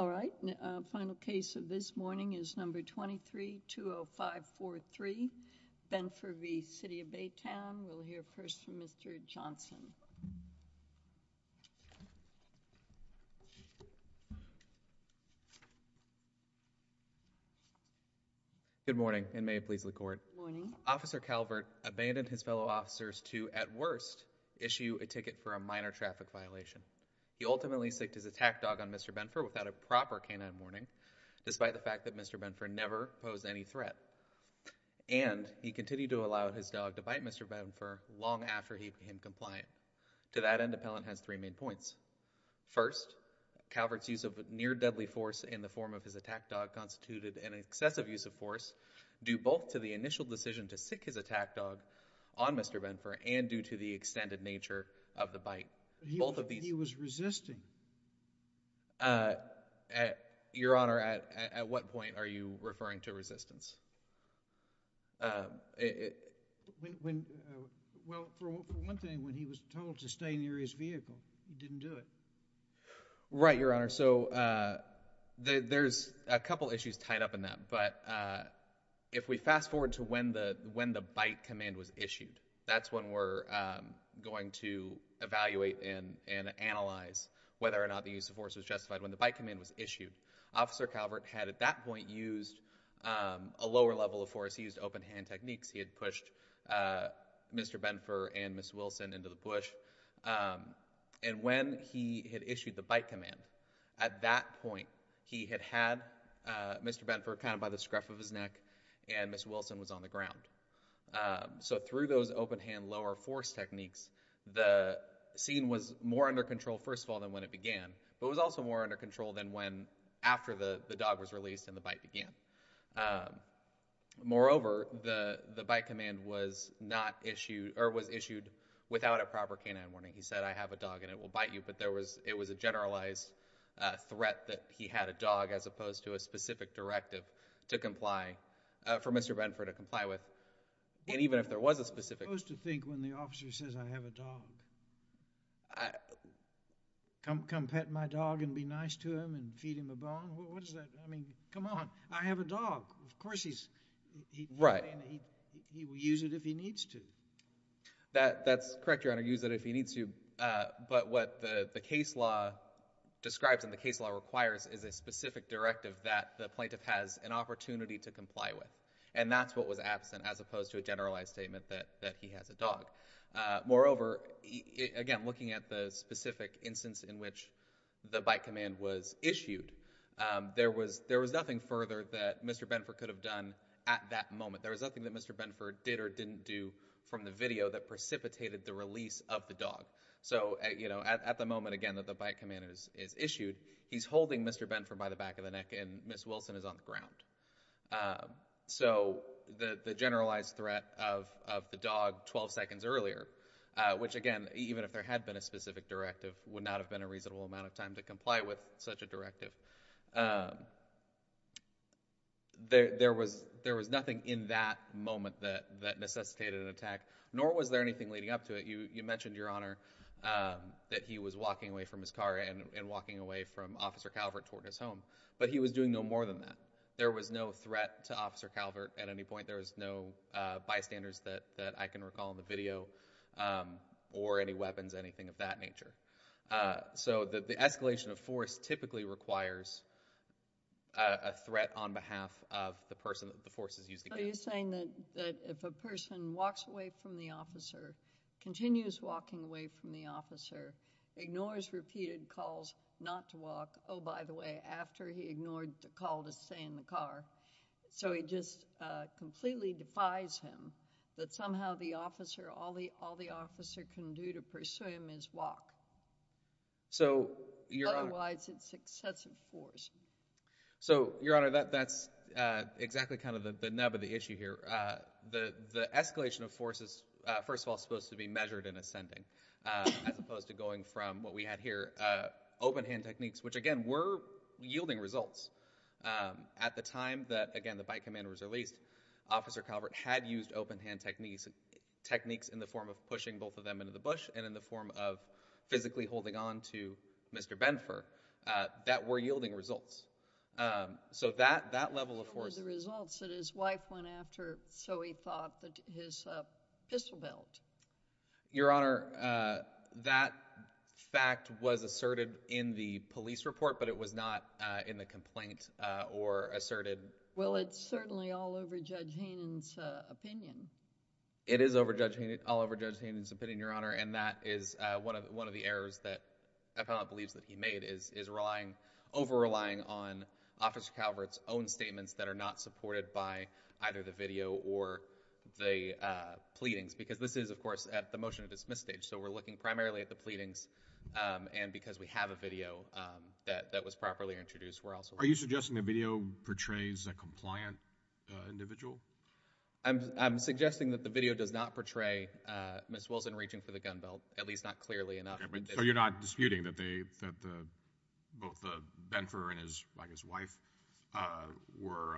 All right, final case of this morning is number 23-20543, Benfer v. City of Baytown. We'll hear first from Mr. Johnson. Good morning, and may it please the court. Good morning. Officer Calvert abandoned his fellow officers to, at worst, issue a ticket for a minor traffic violation. He ultimately sicced his attack dog on Mr. Benfer without a proper canine warning, despite the fact that Mr. Benfer never posed any threat. And he continued to allow his dog to bite Mr. Benfer long after he became compliant. To that end, appellant has three main points. First, Calvert's use of near-deadly force in the form of his attack dog constituted an excessive use of force due both to the initial decision to sick his attack dog on Mr. Benfer and due to the extended nature of the bite. He was resisting. Your Honor, at what point are you referring to resistance? Well, for one thing, when he was told to stay near his vehicle, he didn't do it. Right, Your Honor. So there's a couple issues tied up in that. But if we fast-forward to when the bite command was issued, that's when we're going to evaluate and analyze whether or not the use of force was justified. When the bite command was issued, Officer Calvert had at that point used a lower level of force. He used open-hand techniques. He had pushed Mr. Benfer and Ms. Wilson into the bush. And when he had issued the bite command, at that point he had had Mr. Benfer kind of by the scruff of his neck, and Ms. Wilson was on the ground. So through those open-hand lower force techniques, the scene was more under control, first of all, than when it began, but it was also more under control than after the dog was released and the bite began. Moreover, the bite command was issued without a proper canine warning. He said, I have a dog and it will bite you. But it was a generalized threat that he had a dog, as opposed to a specific directive for Mr. Benfer to comply with. And even if there was a specific... Who's to think when the officer says, I have a dog, come pet my dog and be nice to him and feed him a bone? I mean, come on, I have a dog. Of course he's... Right. He will use it if he needs to. That's correct, Your Honor, use it if he needs to. But what the case law describes and the case law requires is a specific directive that the plaintiff has an opportunity to comply with. And that's what was absent, as opposed to a generalized statement that he has a dog. Moreover, again, looking at the specific instance in which the bite command was issued, there was nothing further that Mr. Benfer could have done at that moment. There was nothing that Mr. Benfer did or didn't do from the video that precipitated the release of the dog. So at the moment, again, that the bite command is issued, he's holding Mr. Benfer by the back of the neck and Ms. Wilson is on the ground. So the generalized threat of the dog 12 seconds earlier, which, again, even if there had been a specific directive, would not have been a reasonable amount of time to comply with such a directive. There was nothing in that moment that necessitated an attack, nor was there anything leading up to it. You mentioned, Your Honor, that he was walking away from his car and walking away from Officer Calvert toward his home, but he was doing no more than that. There was no threat to Officer Calvert at any point. There was no bystanders that I can recall in the video, or any weapons, anything of that nature. So the escalation of force typically requires a threat on behalf of the person the force is using. Are you saying that if a person walks away from the officer, continues walking away from the officer, ignores repeated calls not to walk, oh, by the way, after he ignored the call to stay in the car, so he just completely defies him, that somehow all the officer can do to pursue him is walk? Otherwise, it's excessive force. So, Your Honor, that's exactly kind of the nub of the issue here. The escalation of force is, first of all, supposed to be measured in ascending, as opposed to going from what we had here, open-hand techniques, which, again, were yielding results. At the time that, again, the bycommander was released, Officer Calvert had used open-hand techniques in the form of pushing both of them into the bush and in the form of physically holding on to Mr. Benfer that were yielding results. So that level of force— —were the results that his wife went after, so he thought, his pistol belt. Your Honor, that fact was asserted in the police report, but it was not in the complaint or asserted— Well, it's certainly all over Judge Hanen's opinion. It is all over Judge Hanen's opinion, Your Honor, and that is one of the errors that the appellant believes that he made, is over-relying on Officer Calvert's own statements that are not supported by either the video or the pleadings, because this is, of course, at the motion-to-dismiss stage, so we're looking primarily at the pleadings, and because we have a video that was properly introduced, we're also— Are you suggesting the video portrays a compliant individual? I'm suggesting that the video does not portray Ms. Wilson reaching for the gun belt, at least not clearly enough. So you're not disputing that both Benfer and his wife were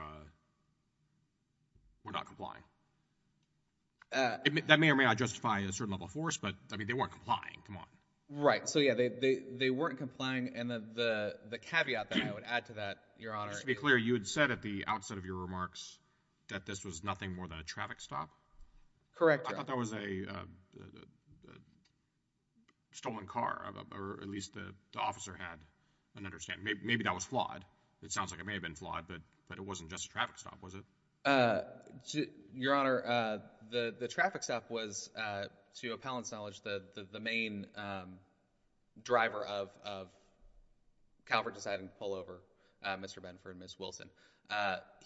not complying? That may or may not justify a certain level of force, but, I mean, they weren't complying. Come on. Right. So, yeah, they weren't complying, and the caveat that I would add to that, Your Honor— Just to be clear, you had said at the outset of your remarks that this was nothing more than a traffic stop? Correct, Your Honor. I thought that was a stolen car, or at least the officer had an understanding. Maybe that was flawed. It sounds like it may have been flawed, but it wasn't just a traffic stop, was it? Your Honor, the traffic stop was, to your appellant's knowledge, the main driver of Calvert deciding to pull over Mr. Benfer and Ms. Wilson.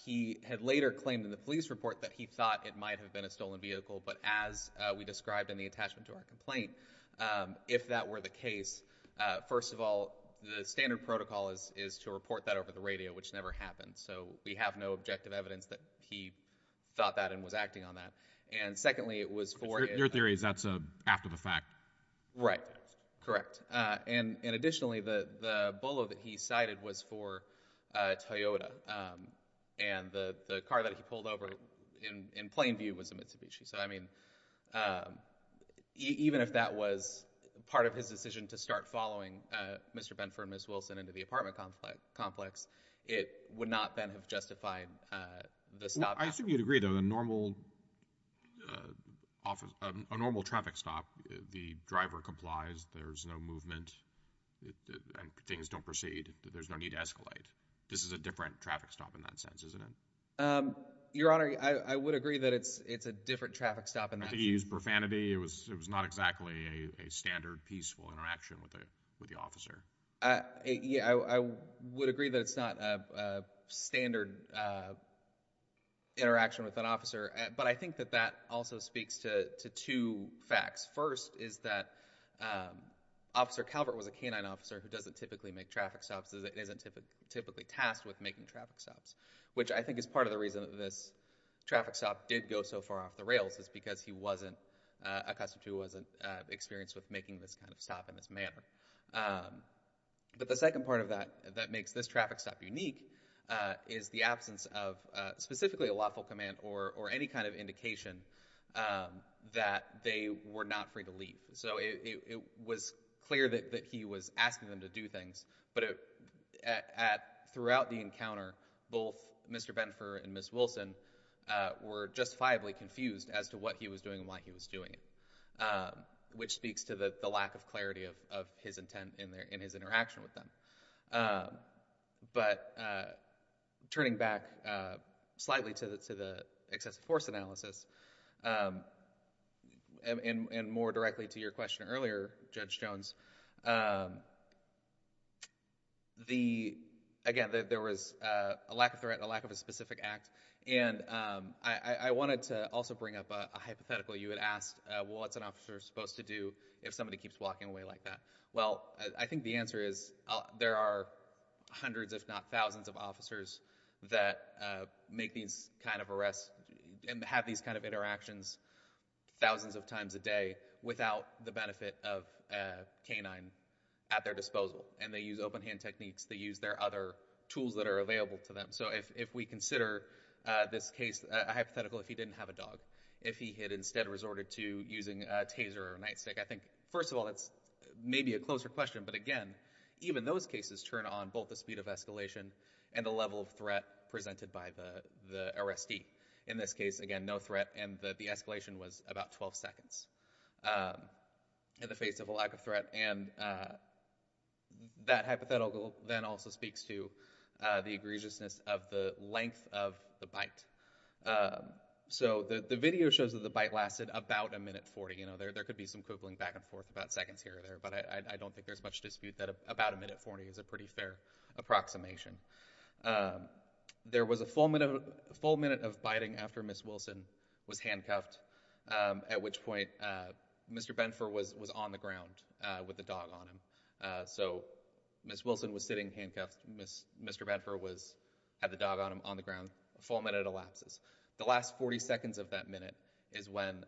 He had later claimed in the police report that he thought it might have been a stolen vehicle, but as we described in the attachment to our complaint, if that were the case, first of all, the standard protocol is to report that over the radio, which never happened. So we have no objective evidence that he thought that and was acting on that. And secondly, it was for— Your theory is that's after the fact? Right. Correct. And additionally, the bullo that he cited was for Toyota, and the car that he pulled over in plain view was a Mitsubishi. So, I mean, even if that was part of his decision to start following Mr. Benfer and Ms. Wilson into the apartment complex, it would not then have justified the stop. I assume you'd agree, though, that a normal traffic stop, the driver complies, there's no movement, and things don't proceed. There's no need to escalate. This is a different traffic stop in that sense, isn't it? Your Honor, I would agree that it's a different traffic stop in that sense. I think he used profanity. It was not exactly a standard peaceful interaction with the officer. Yeah, I would agree that it's not a standard interaction with an officer, but I think that that also speaks to two facts. First is that Officer Calvert was a canine officer who doesn't typically make traffic stops, isn't typically tasked with making traffic stops, which I think is part of the reason that this traffic stop did go so far off the rails is because Acosta II wasn't experienced with making this kind of stop in this manner. But the second part of that that makes this traffic stop unique is the absence of specifically a lawful command or any kind of indication that they were not free to leave. So it was clear that he was asking them to do things, but throughout the encounter both Mr. Benfer and Ms. Wilson were justifiably confused as to what he was doing and why he was doing it, which speaks to the lack of clarity of his intent in his interaction with them. But turning back slightly to the excessive force analysis and more directly to your question earlier, Judge Jones, again, there was a lack of threat, a lack of a specific act, and I wanted to also bring up a hypothetical. You had asked, well, what's an officer supposed to do if somebody keeps walking away like that? Well, I think the answer is there are hundreds if not thousands of officers that make these kind of arrests and have these kind of interactions thousands of times a day without the benefit of a canine at their disposal. And they use open-hand techniques. They use their other tools that are available to them. So if we consider this case a hypothetical, if he didn't have a dog, if he had instead resorted to using a taser or a nightstick, I think, first of all, that's maybe a closer question, but again, even those cases turn on both the speed of escalation and the level of threat presented by the arrestee. In this case, again, no threat, and the escalation was about 12 seconds in the face of a lack of threat. And that hypothetical then also speaks to the egregiousness of the length of the bite. So the video shows that the bite lasted about a minute 40. There could be some quibbling back and forth about seconds here or there, but I don't think there's much dispute that about a minute 40 is a pretty fair approximation. There was a full minute of biting after Ms. Wilson was handcuffed, at which point Mr. Benford was on the ground with the dog on him. So Ms. Wilson was sitting handcuffed. Mr. Benford had the dog on him on the ground. A full minute elapses. The last 40 seconds of that minute is when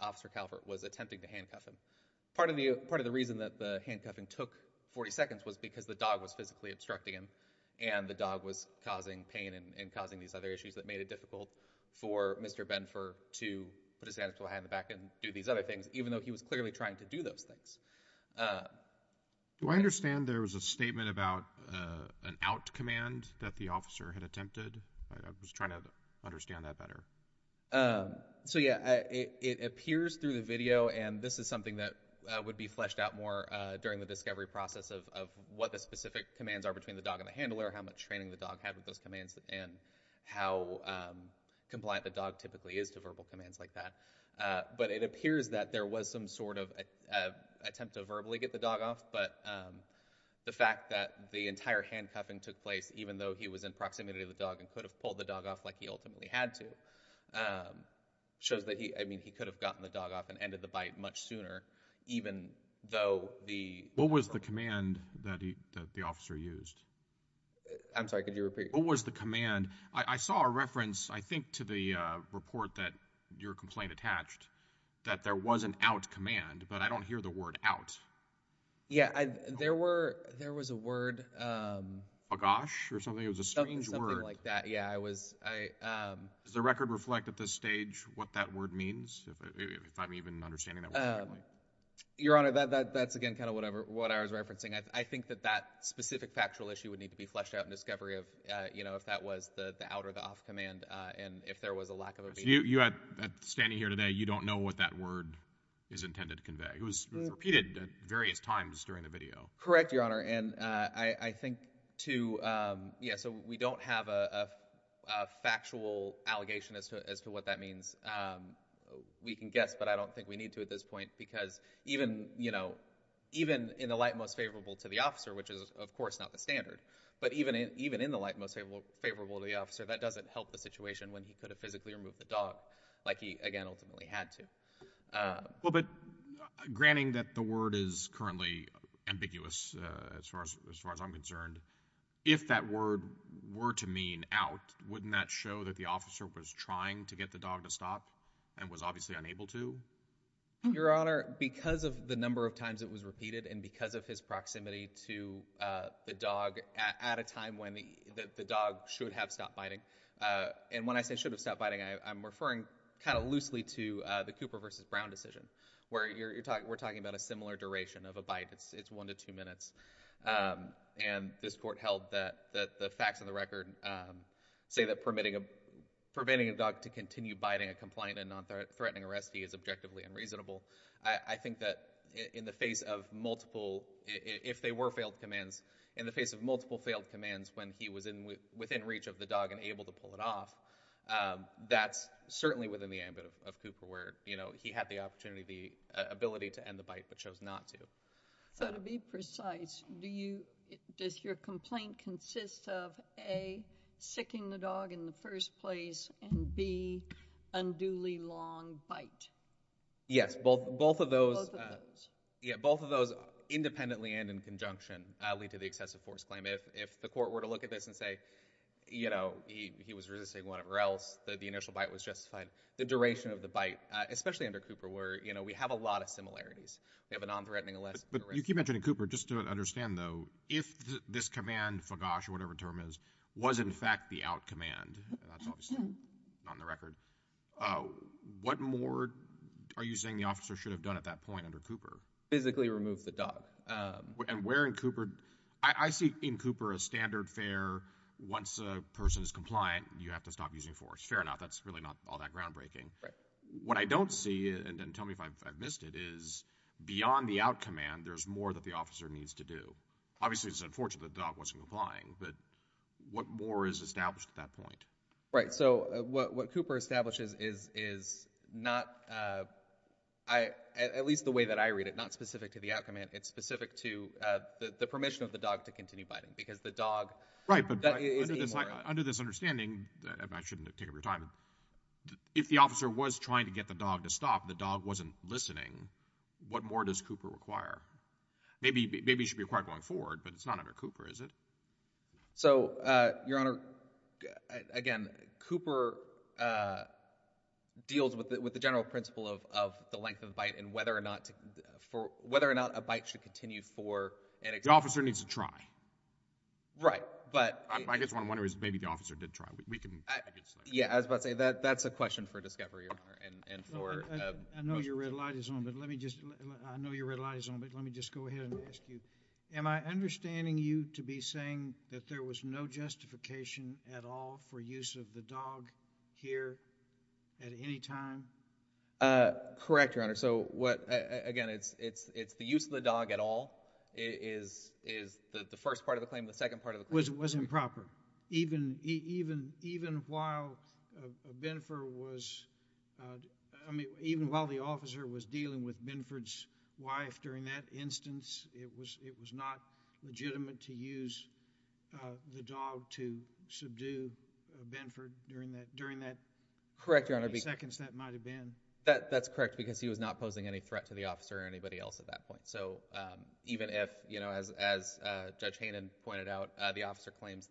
Officer Calvert was attempting to handcuff him. Part of the reason that the handcuffing took 40 seconds was because the dog was physically obstructing him, and the dog was causing pain and causing these other issues that made it difficult for Mr. Benford to put his hands behind his back and do these other things, even though he was clearly trying to do those things. Do I understand there was a statement about an out command that the officer had attempted? I was trying to understand that better. So, yeah, it appears through the video, and this is something that would be fleshed out more during the discovery process of what the specific commands are between the dog and the handler, how much training the dog had with those commands, and how compliant the dog typically is to verbal commands like that. But it appears that there was some sort of attempt to verbally get the dog off, but the fact that the entire handcuffing took place, even though he was in proximity of the dog and could have pulled the dog off like he ultimately had to, shows that he could have gotten the dog off and ended the bite much sooner, even though the... What was the command that the officer used? I'm sorry, could you repeat? What was the command? I saw a reference, I think, to the report that your complaint attached that there was an out command, but I don't hear the word out. Yeah, there was a word... A gosh or something? It was a strange word. Something like that, yeah. Does the record reflect at this stage what that word means, if I'm even understanding that word correctly? Your Honor, that's again kind of what I was referencing. I think that that specific factual issue would need to be fleshed out in discovery of if that was the out or the off command, and if there was a lack of a... You, standing here today, you don't know what that word is intended to convey. It was repeated at various times during the video. Correct, Your Honor, and I think to... Yeah, so we don't have a factual allegation as to what that means. We can guess, but I don't think we need to at this point, because even in the light most favorable to the officer, which is, of course, not the standard, but even in the light most favorable to the officer, that doesn't help the situation when he could have physically removed the dog, like he, again, ultimately had to. Well, but granting that the word is currently ambiguous, as far as I'm concerned, if that word were to mean out, wouldn't that show that the officer was trying to get the dog to stop and was obviously unable to? Your Honor, because of the number of times it was repeated and because of his proximity to the dog at a time when the dog should have stopped biting, and when I say should have stopped biting, I'm referring kind of loosely to the Cooper v. Brown decision, where we're talking about a similar duration of a bite. It's one to two minutes, and this court held that the facts of the record say that permitting a dog to continue biting a compliant and nonthreatening arrestee is objectively unreasonable. I think that in the face of multiple, if they were failed commands, in the face of multiple failed commands when he was within reach of the dog and able to pull it off, that's certainly within the ambit of Cooper, where he had the opportunity, the ability to end the bite, but chose not to. So to be precise, does your complaint consist of A, sicking the dog in the first place, and B, unduly long bite? Yes, both of those... Both of those. Both of those, independently and in conjunction, lead to the excessive force claim. If the court were to look at this and say, you know, he was resisting whatever else, the initial bite was justified, the duration of the bite, especially under Cooper, where, you know, we have a lot of similarities. We have a nonthreatening arrestee... But you keep mentioning Cooper. Just to understand, though, if this command, fagosh or whatever the term is, was in fact the out command, and that's obviously not on the record, what more are you saying the officer should have done at that point under Cooper? Physically remove the dog. And where in Cooper... I see in Cooper a standard fair, once a person is compliant, you have to stop using force. Fair enough. That's really not all that groundbreaking. Right. What I don't see, and tell me if I've missed it, is beyond the out command, there's more that the officer needs to do. Obviously it's unfortunate the dog wasn't complying, but what more is established at that point? Right, so what Cooper establishes is not... at least the way that I read it, not specific to the out command, it's specific to the permission of the dog to continue biting, because the dog... Right, but under this understanding, and I shouldn't take up your time, if the officer was trying to get the dog to stop, the dog wasn't listening, what more does Cooper require? Maybe it should be required going forward, but it's not under Cooper, is it? So, Your Honor, again, deals with the general principle of the length of bite and whether or not a bite should continue for... The officer needs to try. Right, but... I guess what I'm wondering is maybe the officer did try. Yeah, I was about to say, that's a question for discovery, Your Honor, and for... I know your red light is on, but let me just go ahead and ask you. Am I understanding you to be saying that there was no justification at all for use of the dog here at any time? Correct, Your Honor. Again, it's the use of the dog at all is the first part of the claim, the second part of the claim. It wasn't proper. Even while Benford was... I mean, even while the officer was dealing with Benford's wife during that instance, it was not legitimate to use the dog to subdue Benford during that... Correct, Your Honor. That's correct, because he was not posing any threat to the officer or anybody else at that point. So, even if, you know, as Judge Hanen pointed out, the officer claims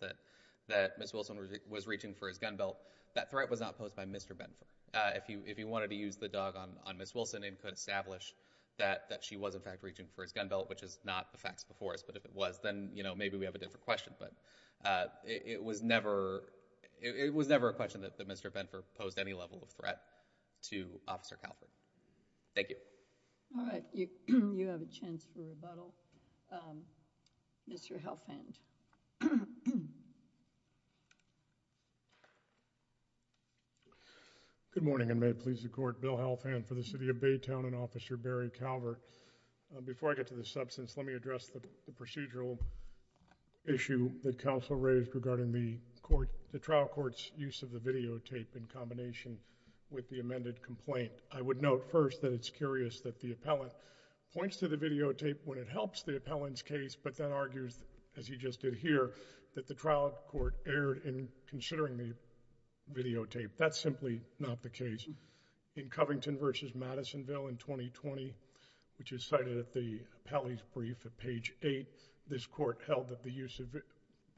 that Ms. Wilson was reaching for his gun belt, that threat was not posed by Mr. Benford. If you wanted to use the dog on Ms. Wilson, it could establish that she was, in fact, reaching for his gun belt, which is not the facts before us, but if it was, then, you know, maybe we have a different question, but it was never... It was never a question that Mr. Benford posed any level of threat to Officer Calford. Thank you. All right. You have a chance for rebuttal. Mr. Halfand. Good morning, and may it please the Court, Bill Halfand for the City of Baytown, and Officer Barry Calver. Before I get to the substance, let me address the procedural issue that counsel raised regarding the trial court's use of the videotape in combination with the amended complaint. I would note first that it's curious that the appellant points to the videotape when it helps the appellant's case, but then argues, as he just did here, that the trial court erred in considering the videotape. That's simply not the case. In Covington v. Madisonville in 2020, which is cited at the appellee's brief at page 8, this court held that the use of a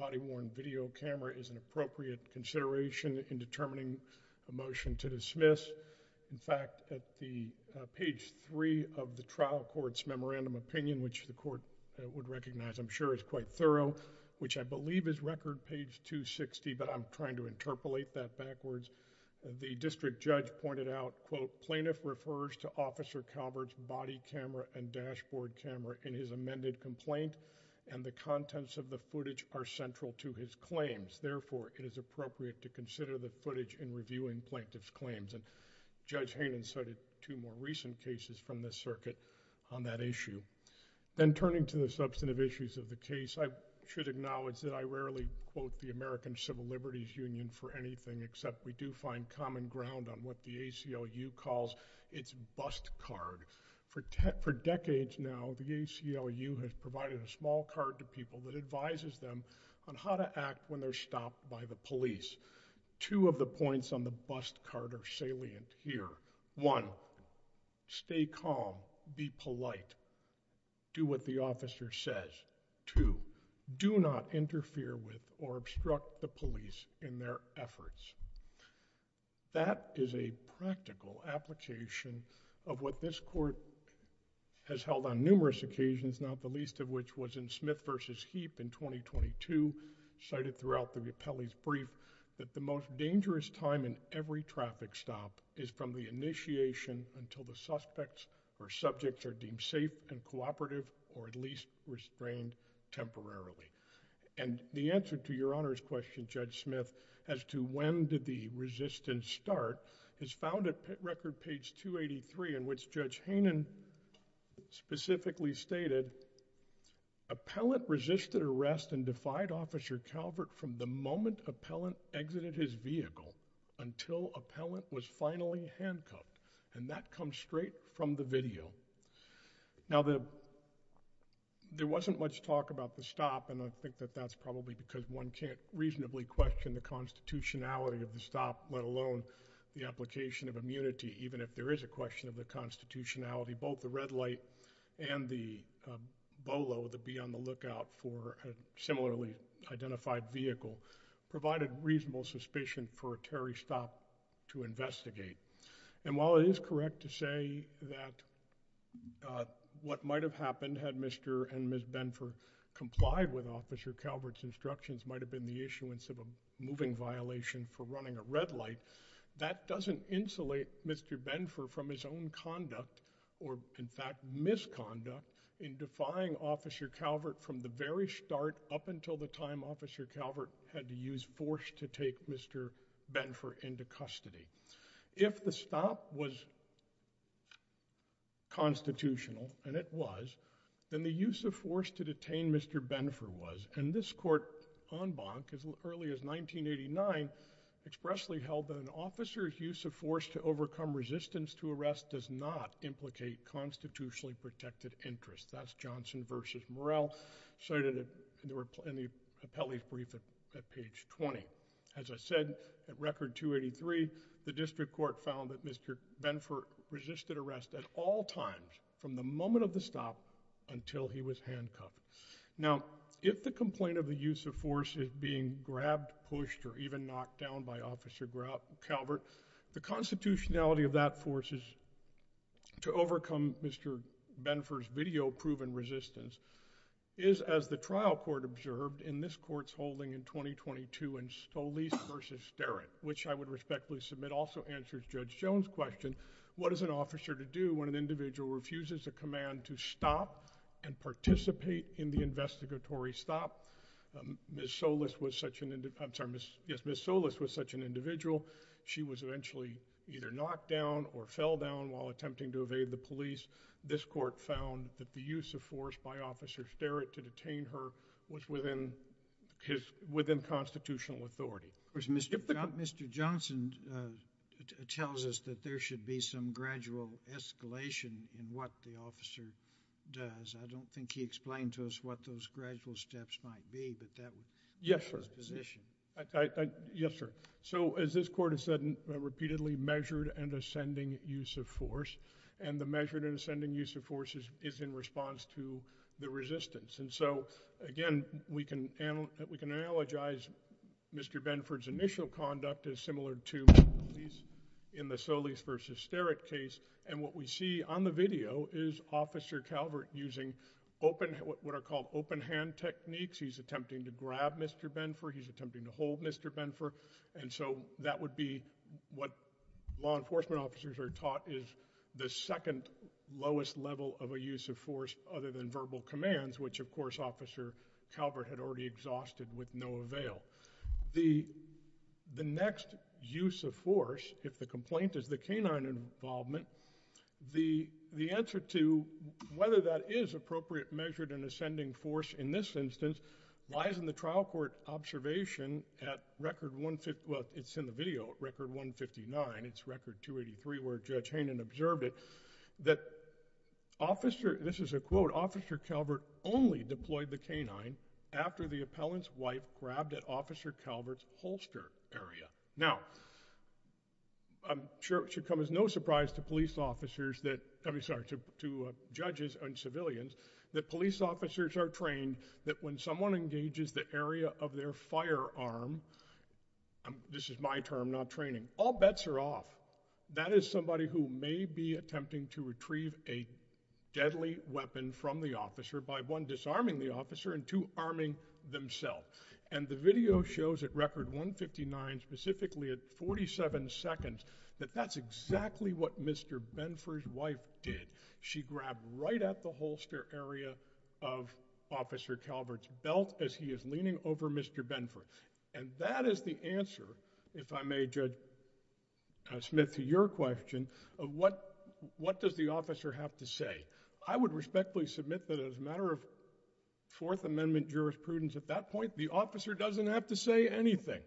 body-worn video camera is an appropriate consideration in determining a motion to dismiss. In fact, at the page 3 of the trial court's memorandum opinion, which the court would recognize, I'm sure, is quite thorough, which I believe is record page 260, but I'm trying to interpolate that backwards. The district judge pointed out, quote, plaintiff refers to Officer Calvert's body camera and dashboard camera in his amended complaint, and the contents of the footage are central to his claims. Therefore, it is appropriate to consider the footage in reviewing plaintiff's claims, and Judge Hanen cited two more recent cases from this circuit on that issue. Then, turning to the substantive issues of the case, I should acknowledge that I rarely quote the American Civil Liberties Union for anything, except we do find common ground on what the ACLU calls its bust card. For decades now, the ACLU has provided a small card to people that advises them on how to act when they're stopped by the police. Two of the points on the bust card are salient here. One, stay calm, be polite, do what the officer says. Two, do not interfere with or obstruct the police in their efforts. That is a practical application of what this court has held on numerous occasions, not the least of which was in Smith v. Heap in 2022, cited throughout the appellee's brief, that the most dangerous time in every traffic stop is from the initiation until the suspects or subjects are deemed safe and cooperative, or at least restrained temporarily. And the answer to Your Honor's question, Judge Smith, as to when did the resistance start, is found at record page 283, in which Judge Hanen specifically stated, Appellant resisted arrest and defied Officer Calvert from the moment Appellant exited his vehicle until Appellant was finally handcuffed. And that comes straight from the video. Now, there wasn't much talk about the stop, and I think that that's probably because one can't reasonably question the constitutionality of the stop, let alone the application of immunity, even if there is a question of the constitutionality, both the red light and the BOLO, the be on the lookout for a similarly identified vehicle, provided reasonable suspicion for a Terry stop to investigate. And while it is correct to say that what might have happened had Mr. and Ms. Benford complied with Officer Calvert's instructions might have been the issuance of a moving violation for running a red light, that doesn't insulate Mr. Benford from his own conduct, or in fact misconduct, in defying Officer Calvert from the very start up until the time Officer Calvert had to use force to take Mr. Benford into custody. If the stop was constitutional, and it was, then the use of force to detain Mr. Benford was, and this court en banc, as early as 1989, expressly held that an officer's use of force to overcome resistance to arrest does not implicate constitutionally protected interests. That's Johnson v. Morell, cited in the appellee's brief at page 20. As I said, at record 283, the district court found that Mr. Benford resisted arrest at all times from the moment of the stop until he was handcuffed. Now, if the complaint of the use of force is being grabbed, pushed, or even knocked down by Officer Calvert, the constitutionality of that force is to overcome Mr. Benford's video-proven resistance is, as the trial court observed in this court's holding in 2022 in Stolese v. Sterritt, which I would respectfully submit also answers Judge Jones' question, what is an officer to do when an individual refuses a command to stop and participate in the investigatory stop? Ms. Solis was such an individual she was eventually either knocked down or fell down while attempting to evade the police. This court found that the use of force by Officer Sterritt to detain her was within constitutional authority. Mr. Johnson tells us that there should be some gradual escalation in what the officer does. I don't think he explained to us what those gradual steps might be, but that's his position. Yes, sir. As this court has said repeatedly, measured and ascending use of force and the measured and ascending use of force is in response to the resistance. Again, we can analogize Mr. Benford's initial conduct as similar to in the Solis v. Sterritt case, and what we see on the video is Officer Calvert using what are called open-hand techniques. He's attempting to grab Mr. Benford, he's attempting to hold Mr. Benford, and so that would be what law enforcement officers are taught is the second lowest level of a use of force other than verbal commands, which of course Officer Calvert had already exhausted with no avail. The next use of force, if the complaint is the canine involvement, the answer to whether that is appropriate measured and ascending use of force in this instance lies in the trial court observation at record 159, it's in the video, record 159, it's record 283 where Judge Hainan observed it, that Officer, this is a quote, Officer Calvert only deployed the canine after the appellant's wife grabbed at Officer Calvert's holster area. Now, I'm sure it should come as no surprise to police officers that, I'm sorry, to judges and civilians, that police officers are trained that when someone engages the area of their firearm, this is my term, not training, all bets are off. That is somebody who may be attempting to retrieve a deadly weapon from the officer by one, disarming the officer, and two, arming themselves. And the video shows at record 159 specifically at 47 seconds that that's exactly what Mr. Benford's wife did. She grabbed right at the holster area of Officer Calvert's belt as he is leaning over Mr. Benford. And that is the answer, if I may, Judge Smith, to your question, of what does the officer have to say? I would respectfully submit that as a matter of Fourth Amendment jurisprudence, at that point, the officer doesn't have to say anything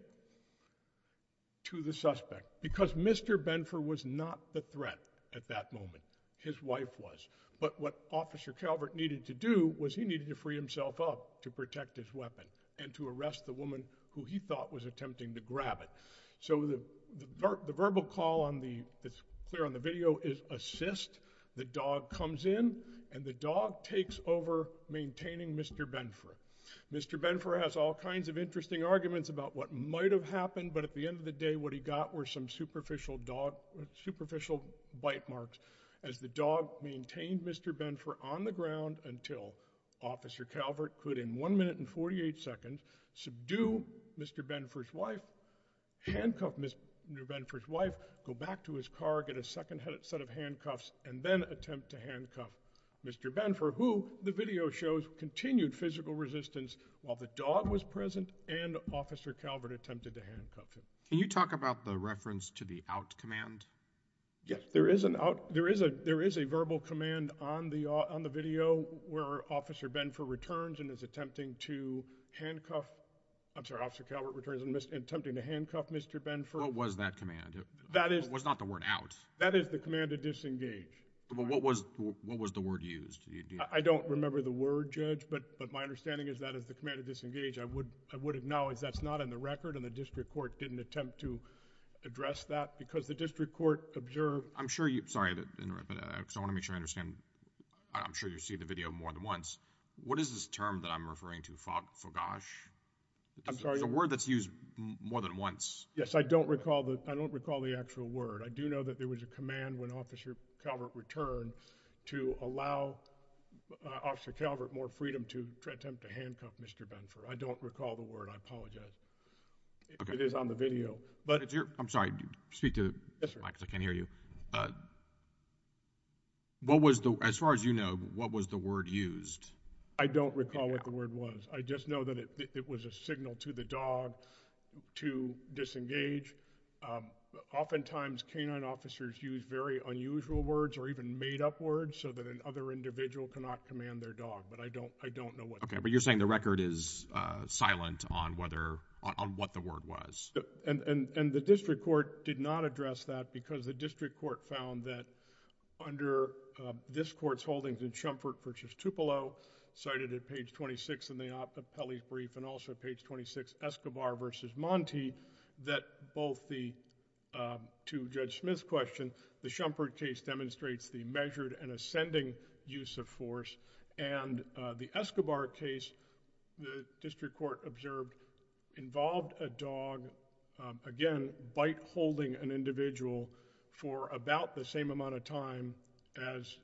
to the suspect because Mr. Benford was not the threat at that moment. His wife was. But what Officer Calvert needed to do was he needed to free himself up to protect his weapon and to arrest the woman who he thought was attempting to grab it. So the verbal call that's clear on the video is assist, the dog comes in, and the dog takes over maintaining Mr. Benford. Mr. Benford has all kinds of interesting arguments about what might have happened, but at the end of the day what he got were some superficial bite marks as the dog maintained Mr. Benford on the ground until Officer Calvert could, in 1 minute and 48 seconds, subdue Mr. Benford's wife, handcuff Mr. Benford's wife, go back to his car, get a second set of handcuffs, and then attempt to handcuff Mr. Benford, who the video shows continued physical resistance while the dog was present and Officer Calvert attempted to handcuff him. Can you talk about the reference to the out command? Yes, there is a verbal command on the video where Officer Benford returns and is attempting to handcuff, I'm sorry, Officer Calvert returns and attempting to handcuff Mr. Benford. What was that command? It was not the word out. That is the command to disengage. But what was the word used? I don't remember the word, Judge, but my understanding is that is the command to disengage. I would know if that's not in the record and the District Court didn't attempt to address that because the District Court observed I'm sure you, sorry to interrupt, but I want to make sure I understand, I'm sure you see the video more than once. What is this term that I'm referring to? Fagosh? I'm sorry? It's a word that's used more than once. Yes, I don't recall the actual word. I do know that there was a command when Officer Calvert returned to allow Officer Calvert more freedom to attempt to handcuff Mr. Benford. I don't recall the word. I apologize. It is on the video. I'm sorry. Speak to the mic because I can't hear you. What was the, as far as you know, what was the word used? I don't recall what the word was. I just know that it was a signal to the dog to disengage. Oftentimes, canine officers use very unusual words or even made-up words so that an other individual cannot command their dog. I don't know what the word was. You're saying the record is silent on what the word was. The District Court did not address that because the District Court found that under this Court's holdings in Shumford v. Tupelo, cited at page 26 in the Oppelli's brief and also page 26, Escobar v. Monti, that both the, to Judge Smith's question, the Shumford case demonstrates the measured and ascending use of force and the Escobar case, the District Court observed involved a dog again, bite-holding an individual for about the same amount of time as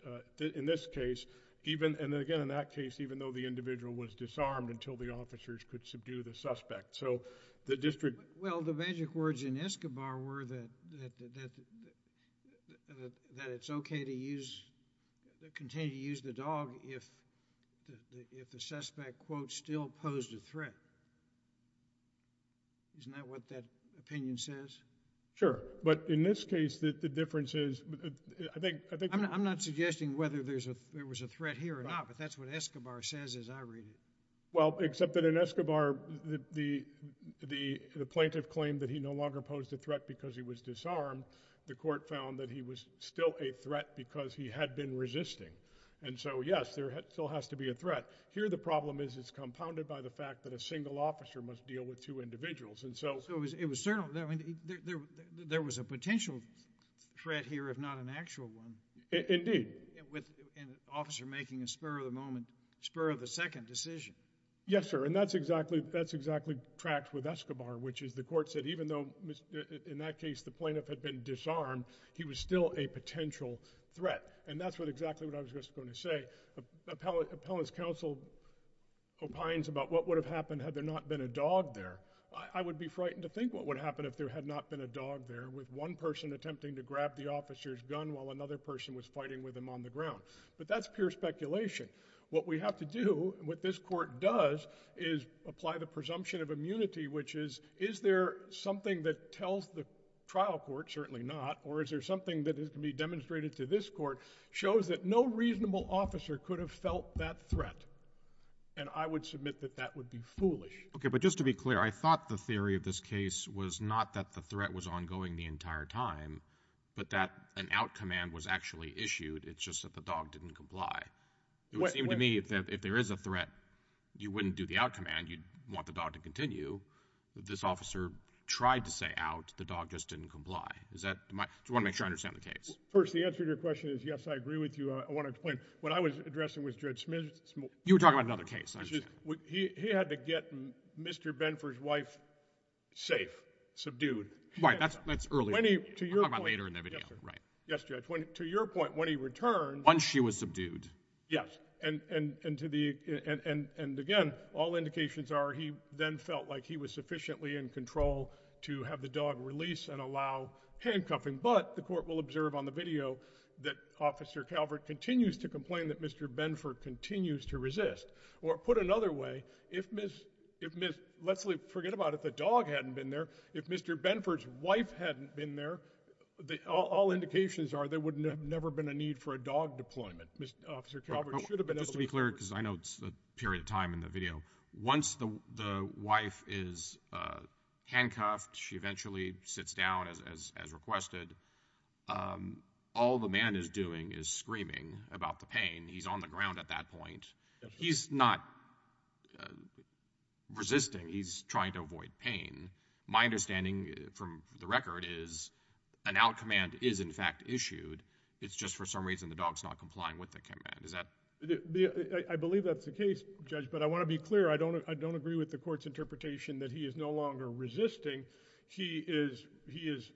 in this case, even, and again in that case, even though the individual was disarmed until the officers could subdue the suspect. So, the District... Well, the magic words in Escobar were that it's okay to use... continue to use the dog if the suspect, quote, still posed a threat. Isn't that what that opinion says? Sure. But in this case, the difference is I think... I'm not suggesting whether there was a threat here or not, but that's what Escobar says as I read it. Well, except that in Escobar, the plaintiff claimed that he no longer posed a threat because he was disarmed. The court found that he was still a threat because he had been resisting. And so, yes, there still has to be a threat. Here, the problem is it's compounded by the fact that a single officer must deal with two individuals, and so... So, it was... there was a potential threat here, if not an actual one. Indeed. With an officer making a spur-of-the-moment, spur-of-the- second decision. Yes, sir, and that's exactly... that's exactly tracked with Escobar, which is the court said even though in that case the plaintiff had been disarmed, he was still a potential threat. And that's what... exactly what I was just going to say. Appellant's counsel opines about what would have happened had there not been a dog there. I would be frightened to think what would happen if there had not been a dog there with one person attempting to grab the officer's gun while another person was fighting with him on the ground. But that's pure speculation. What we have to do and what this court does is apply the presumption of immunity, which is, is there something that tells the trial court, certainly not, or is there something that can be demonstrated to this court, shows that no reasonable officer could have felt that threat. And I would submit that that would be foolish. Okay, but just to be clear, I thought the theory of this case was not that the threat was ongoing the entire time, but that an out command was actually issued. It's just that the dog didn't comply. It would seem to me that if there is a threat, you wouldn't do the out command. You'd want the dog to continue. This officer tried to say out. The dog just didn't comply. Do you want to make sure I understand the case? First, the answer to your question is yes, I agree with you. I want to explain. What I was addressing was Judge Smith's motion. You were talking about another case. He had to get Mr. Benford's wife safe, subdued. Right. That's earlier. I'm talking about later in the video. Yes, Judge. To your point, when he returned... Once she was subdued. Yes. And to the... And again, all indications are he then felt like he was sufficiently in control to have the dog release and allow handcuffing, but the court will observe on the video that Officer Calvert continues to complain that Mr. Benford continues to resist. Or put another way, if Miss... Let's forget about it. If the dog hadn't been there, if Mr. Benford's wife hadn't been there, all indications are there would have never been a need for a dog deployment. Officer Calvert Just to be clear, because I know it's a period of time in the video. Once the wife is handcuffed, she eventually sits down as requested. All the man is doing is screaming about the pain. He's on the ground at that point. He's not resisting. He's trying to avoid pain. My understanding from the record is an out command is in fact issued. It's just for some reason the dog's not complying with the command. Is that... I believe that's the case Judge, but I want to be clear. I don't agree with the court's interpretation that he is no longer resisting. He is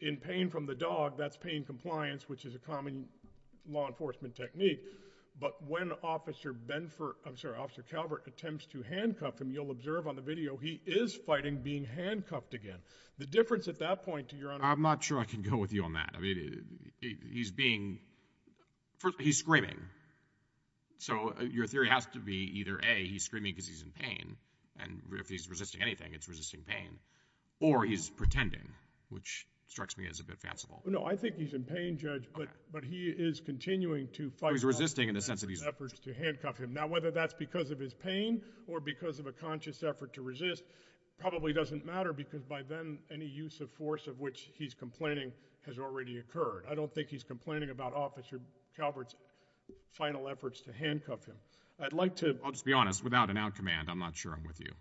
in pain from the dog. That's pain compliance, which is a common law enforcement technique. But when Officer Calvert attempts to handcuff him, you'll observe on the video he is fighting being handcuffed again. The difference at that point... I'm not sure I can go with you on that. He's being... He's screaming. So your theory has to be either A, he's screaming because he's in pain and if he's resisting anything it's resisting pain, or he's pretending, which strikes me as a bit fanciful. No, I think he's in pain, Judge, but he is continuing to fight... He's resisting in the sense that he's... Now whether that's because of his pain or because of a conscious effort to resist probably doesn't matter because by then any use of force of which he's complaining has already occurred. I don't think he's complaining about Officer Calvert's final efforts to handcuff him. I'd like to... I'll just be honest. Without an out command, I'm not sure I'm with you.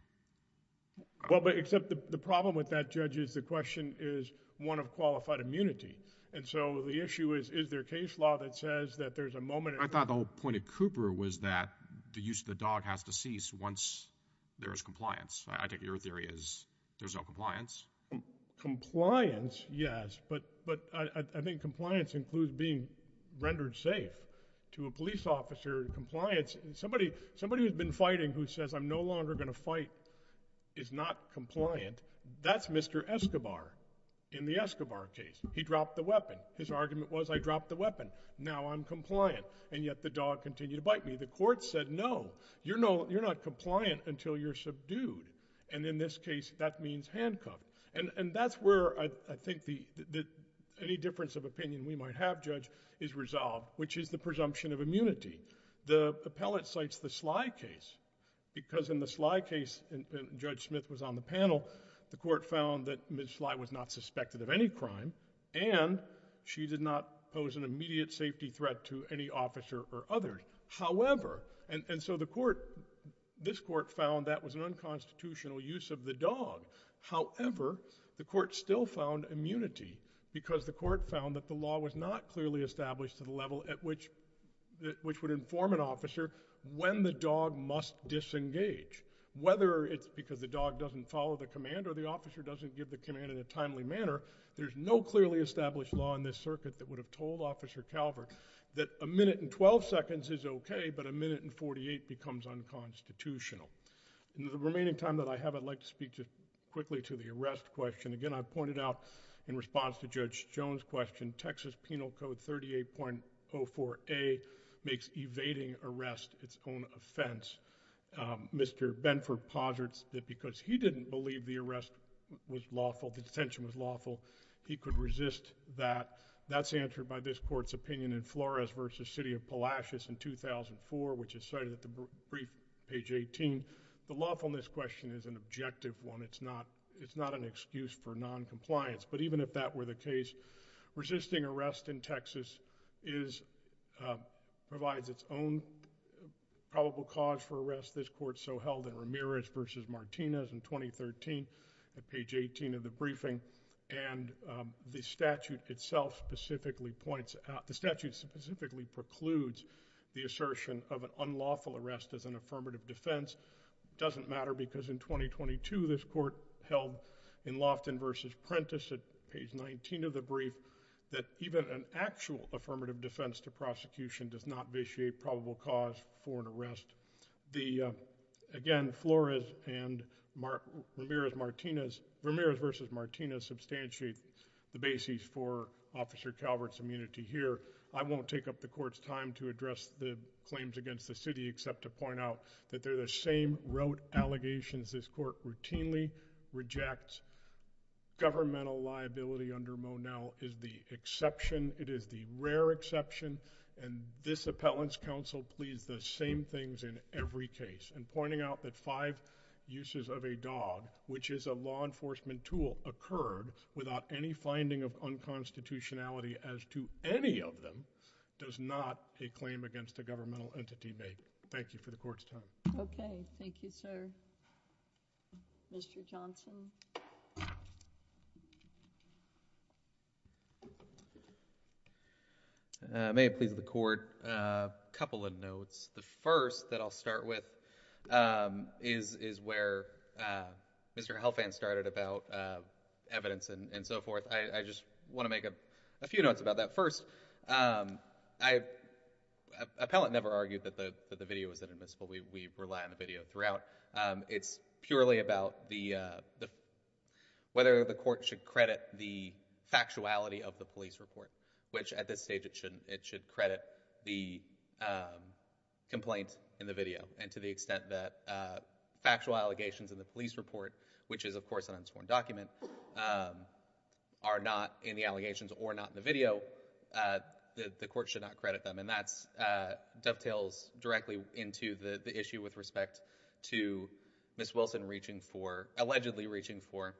Well, but except the problem with that, Judge, is the question is one of qualified immunity. And so the issue is, is there case law that says that there's a moment... I thought the whole point of Cooper was that the use of the dog has to cease once there is compliance. I take it your theory is there's no compliance? Compliance? Yes, but I think compliance includes being rendered safe. To a police officer, compliance... Somebody who's been fighting who says I'm no longer going to fight is not compliant. That's Mr. Escobar in the Escobar case. He dropped the weapon. His argument was I dropped the weapon. Now I'm compliant. And yet the dog continued to bite me. The court said no. You're not compliant until you're subdued. And in this case, that means handcuffed. And that's where I think that any difference of opinion we might have, Judge, is resolved, which is the presumption of immunity. The appellate cites the Sly case, because in the Sly case, and Judge Smith was on the panel, the court found that Ms. Sly was not suspected of any crime, and she did not pose an immediate safety threat to any officer or others. However, and so the court, this court found that was an unconstitutional use of the dog. However, the court still found immunity, because the court found that the law was not clearly established to the level at which would inform an officer when the dog must disengage. Whether it's because the dog doesn't follow the command or the officer doesn't give the command in a timely manner, there's no clearly established law in this circuit that would have told Officer Calvert that a minute and 12 seconds is okay, but a minute and 48 becomes unconstitutional. In the remaining time that I have, I'd like to speak quickly to the arrest question. Again, I pointed out in response to Judge Jones' question, Texas Penal Code 38.04a makes evading arrest its own offense. Mr. Benford posits that because he didn't believe the arrest was lawful, the detention was lawful, he could resist that. That's answered by this court's opinion in Ramirez v. City of Palacios in 2004, which is cited at the brief, page 18. The lawfulness question is an objective one. It's not an excuse for noncompliance, but even if that were the case, resisting arrest in provides its own probable cause for arrest. This court so held in Ramirez v. Martinez in 2013 at page 18 of the briefing, and the statute itself specifically points out, the statute specifically precludes the assertion of an unlawful arrest as an affirmative defense. It doesn't matter because in 2022, this court held in Lofton v. Prentiss at page 19 of the brief, that even an actual affirmative defense to prosecution does not vitiate probable cause for an arrest. Again, Flores and Ramirez v. Martinez substantiate the basis for Officer Calvert's immunity here. I won't take up the court's time to address the claims against the city, except to point out that they're the same rote allegations this court routinely rejects. Governmental liability under Monell is the exception. It is the rare exception, and this appellant's counsel pleads the same things in every case in pointing out that five uses of a dog, which is a law enforcement tool, occurred without any finding of unconstitutionality as to any of them does not a claim against a governmental entity make. Thank you for the court's time. Okay. Thank you, sir. Mr. Johnson. May it please the court, a couple of notes. The first that I'll start with is where Mr. Helfand started about evidence and so forth. I just want to make a few notes about that. First, appellant never argued that the video was inadmissible. We rely on the video throughout. It's purely about whether the court should credit the factuality of the police report, which at this stage it should credit the complaint in the video, and to the extent that factual allegations in the police report, which is of course an unsworn document, are not in the allegations or not in the video, the court should not credit them. And that dovetails directly into the issue with respect to Ms. Wilson allegedly reaching for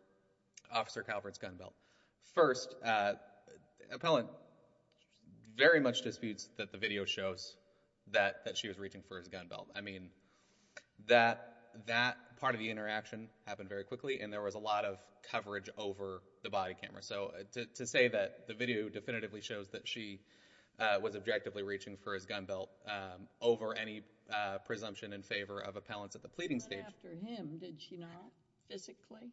Officer Calvert's gun belt. First, appellant very much disputes that the video shows that she was reaching for his gun belt. I mean, that part of the interaction happened very quickly, and there was a lot of coverage over the body camera. So to say that the video definitively shows that she was objectively reaching for his gun belt over any presumption in favor of appellants at the pleading stage... He went after him, did she not? Physically?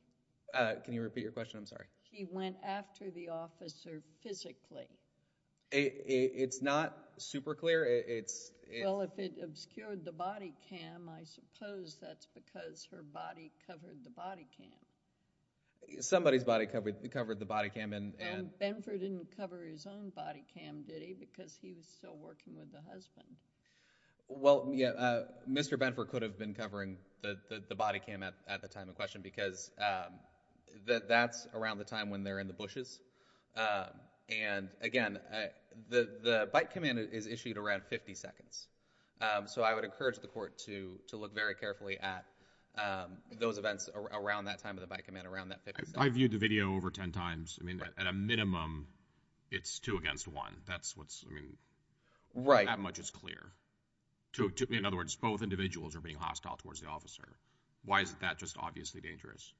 Can you repeat your question? I'm sorry. He went after the officer physically. It's not super clear. Well, if it obscured the body cam, I suppose that's because her body covered the body cam. Somebody's body covered the body cam. And Benford didn't cover his own body cam, did he? Because he was still working with the husband. Well, yeah, Mr. Benford could have been covering the body cam at the time of question because that's around the time when they're in the bushes. And again, the bite command is issued around 50 seconds. So I would encourage the court to look very carefully at those events around that time of the bite command. I viewed the video over 10 times. At a minimum, it's two against one. That much is clear. In other words, both individuals are being hostile towards the officer. Why is that just obviously dangerous?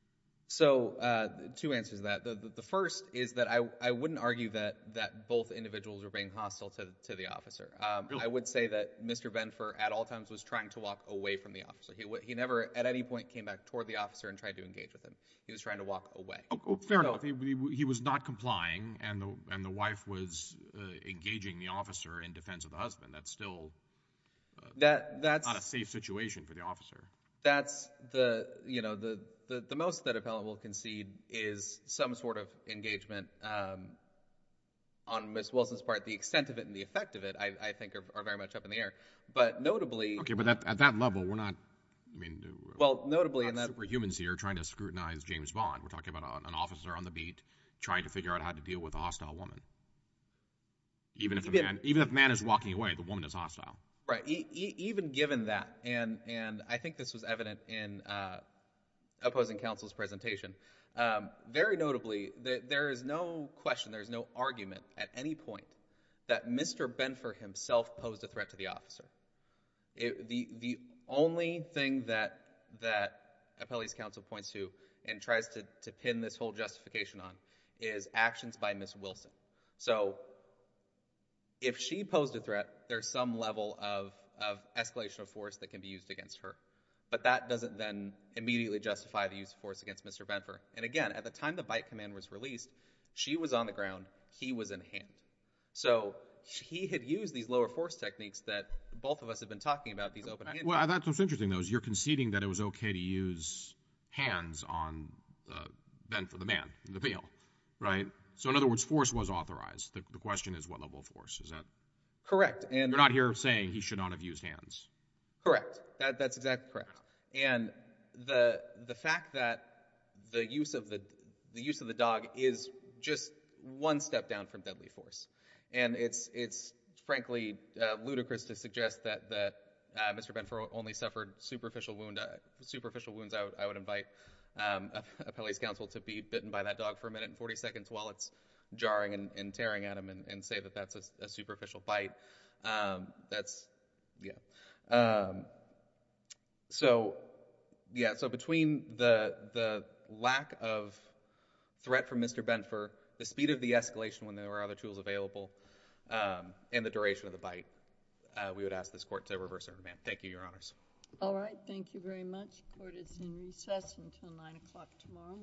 So, two answers to that. The first is that I wouldn't argue that both individuals are being hostile to the officer. I would say that Mr. Benford at all times was trying to walk away from the officer. He never at any point came back toward the officer and tried to engage with him. He was trying to walk away. Fair enough. He was not complying and the wife was engaging the officer in defense of the husband. That's still not a safe situation for the officer. The most that a felon will concede is some sort of engagement on Ms. Wilson's part. The extent of it and the effect of it, I think, are very much up in the air. Notably... At that level, we're not super humans here trying to scrutinize James Bond. We're talking about an officer on the beat trying to figure out how to deal with a hostile woman. Even if a man is walking away, the woman is hostile. Right. Even given that and I think this was evident in opposing counsel's presentation, very notably, there is no question, there is no argument at any point that Mr. Benford himself posed a threat to the officer. The only thing that appellee's counsel points to and tries to pin this whole justification on is actions by Ms. Wilson. So, if she posed a threat, there's some level of escalation of force that can be used against her. But that doesn't then immediately justify the use of force against Mr. Benford. And again, at the time the bite command was released, she was on the ground, he was in hand. So, he had used these lower force techniques that both of us have been talking about. Well, that's what's interesting though, is you're conceding that it was okay to use hands on Benford, the man, the appeal. Right? So, in other words, force was authorized. The question is what level of force. Is that... Correct. You're not here saying he should not have used hands. Correct. That's exactly correct. And the fact that the use of the dog is just one step down from deadly force. And it's frankly ludicrous to suggest that Mr. Benford only suffered superficial wounds. I would invite appellee's counsel to be bitten by that dog for a minute and 40 seconds while it's jarring and tearing at him and say that that's a superficial bite. That's... Yeah. So, yeah. So, between the lack of threat from Mr. Benford, the speed of the escalation when there were other tools available, and the duration of the bite, we would ask this Court to reverse our demand. Thank you, Your Honors. All right. Thank you very much. Court is in recess until 9 o'clock tomorrow morning.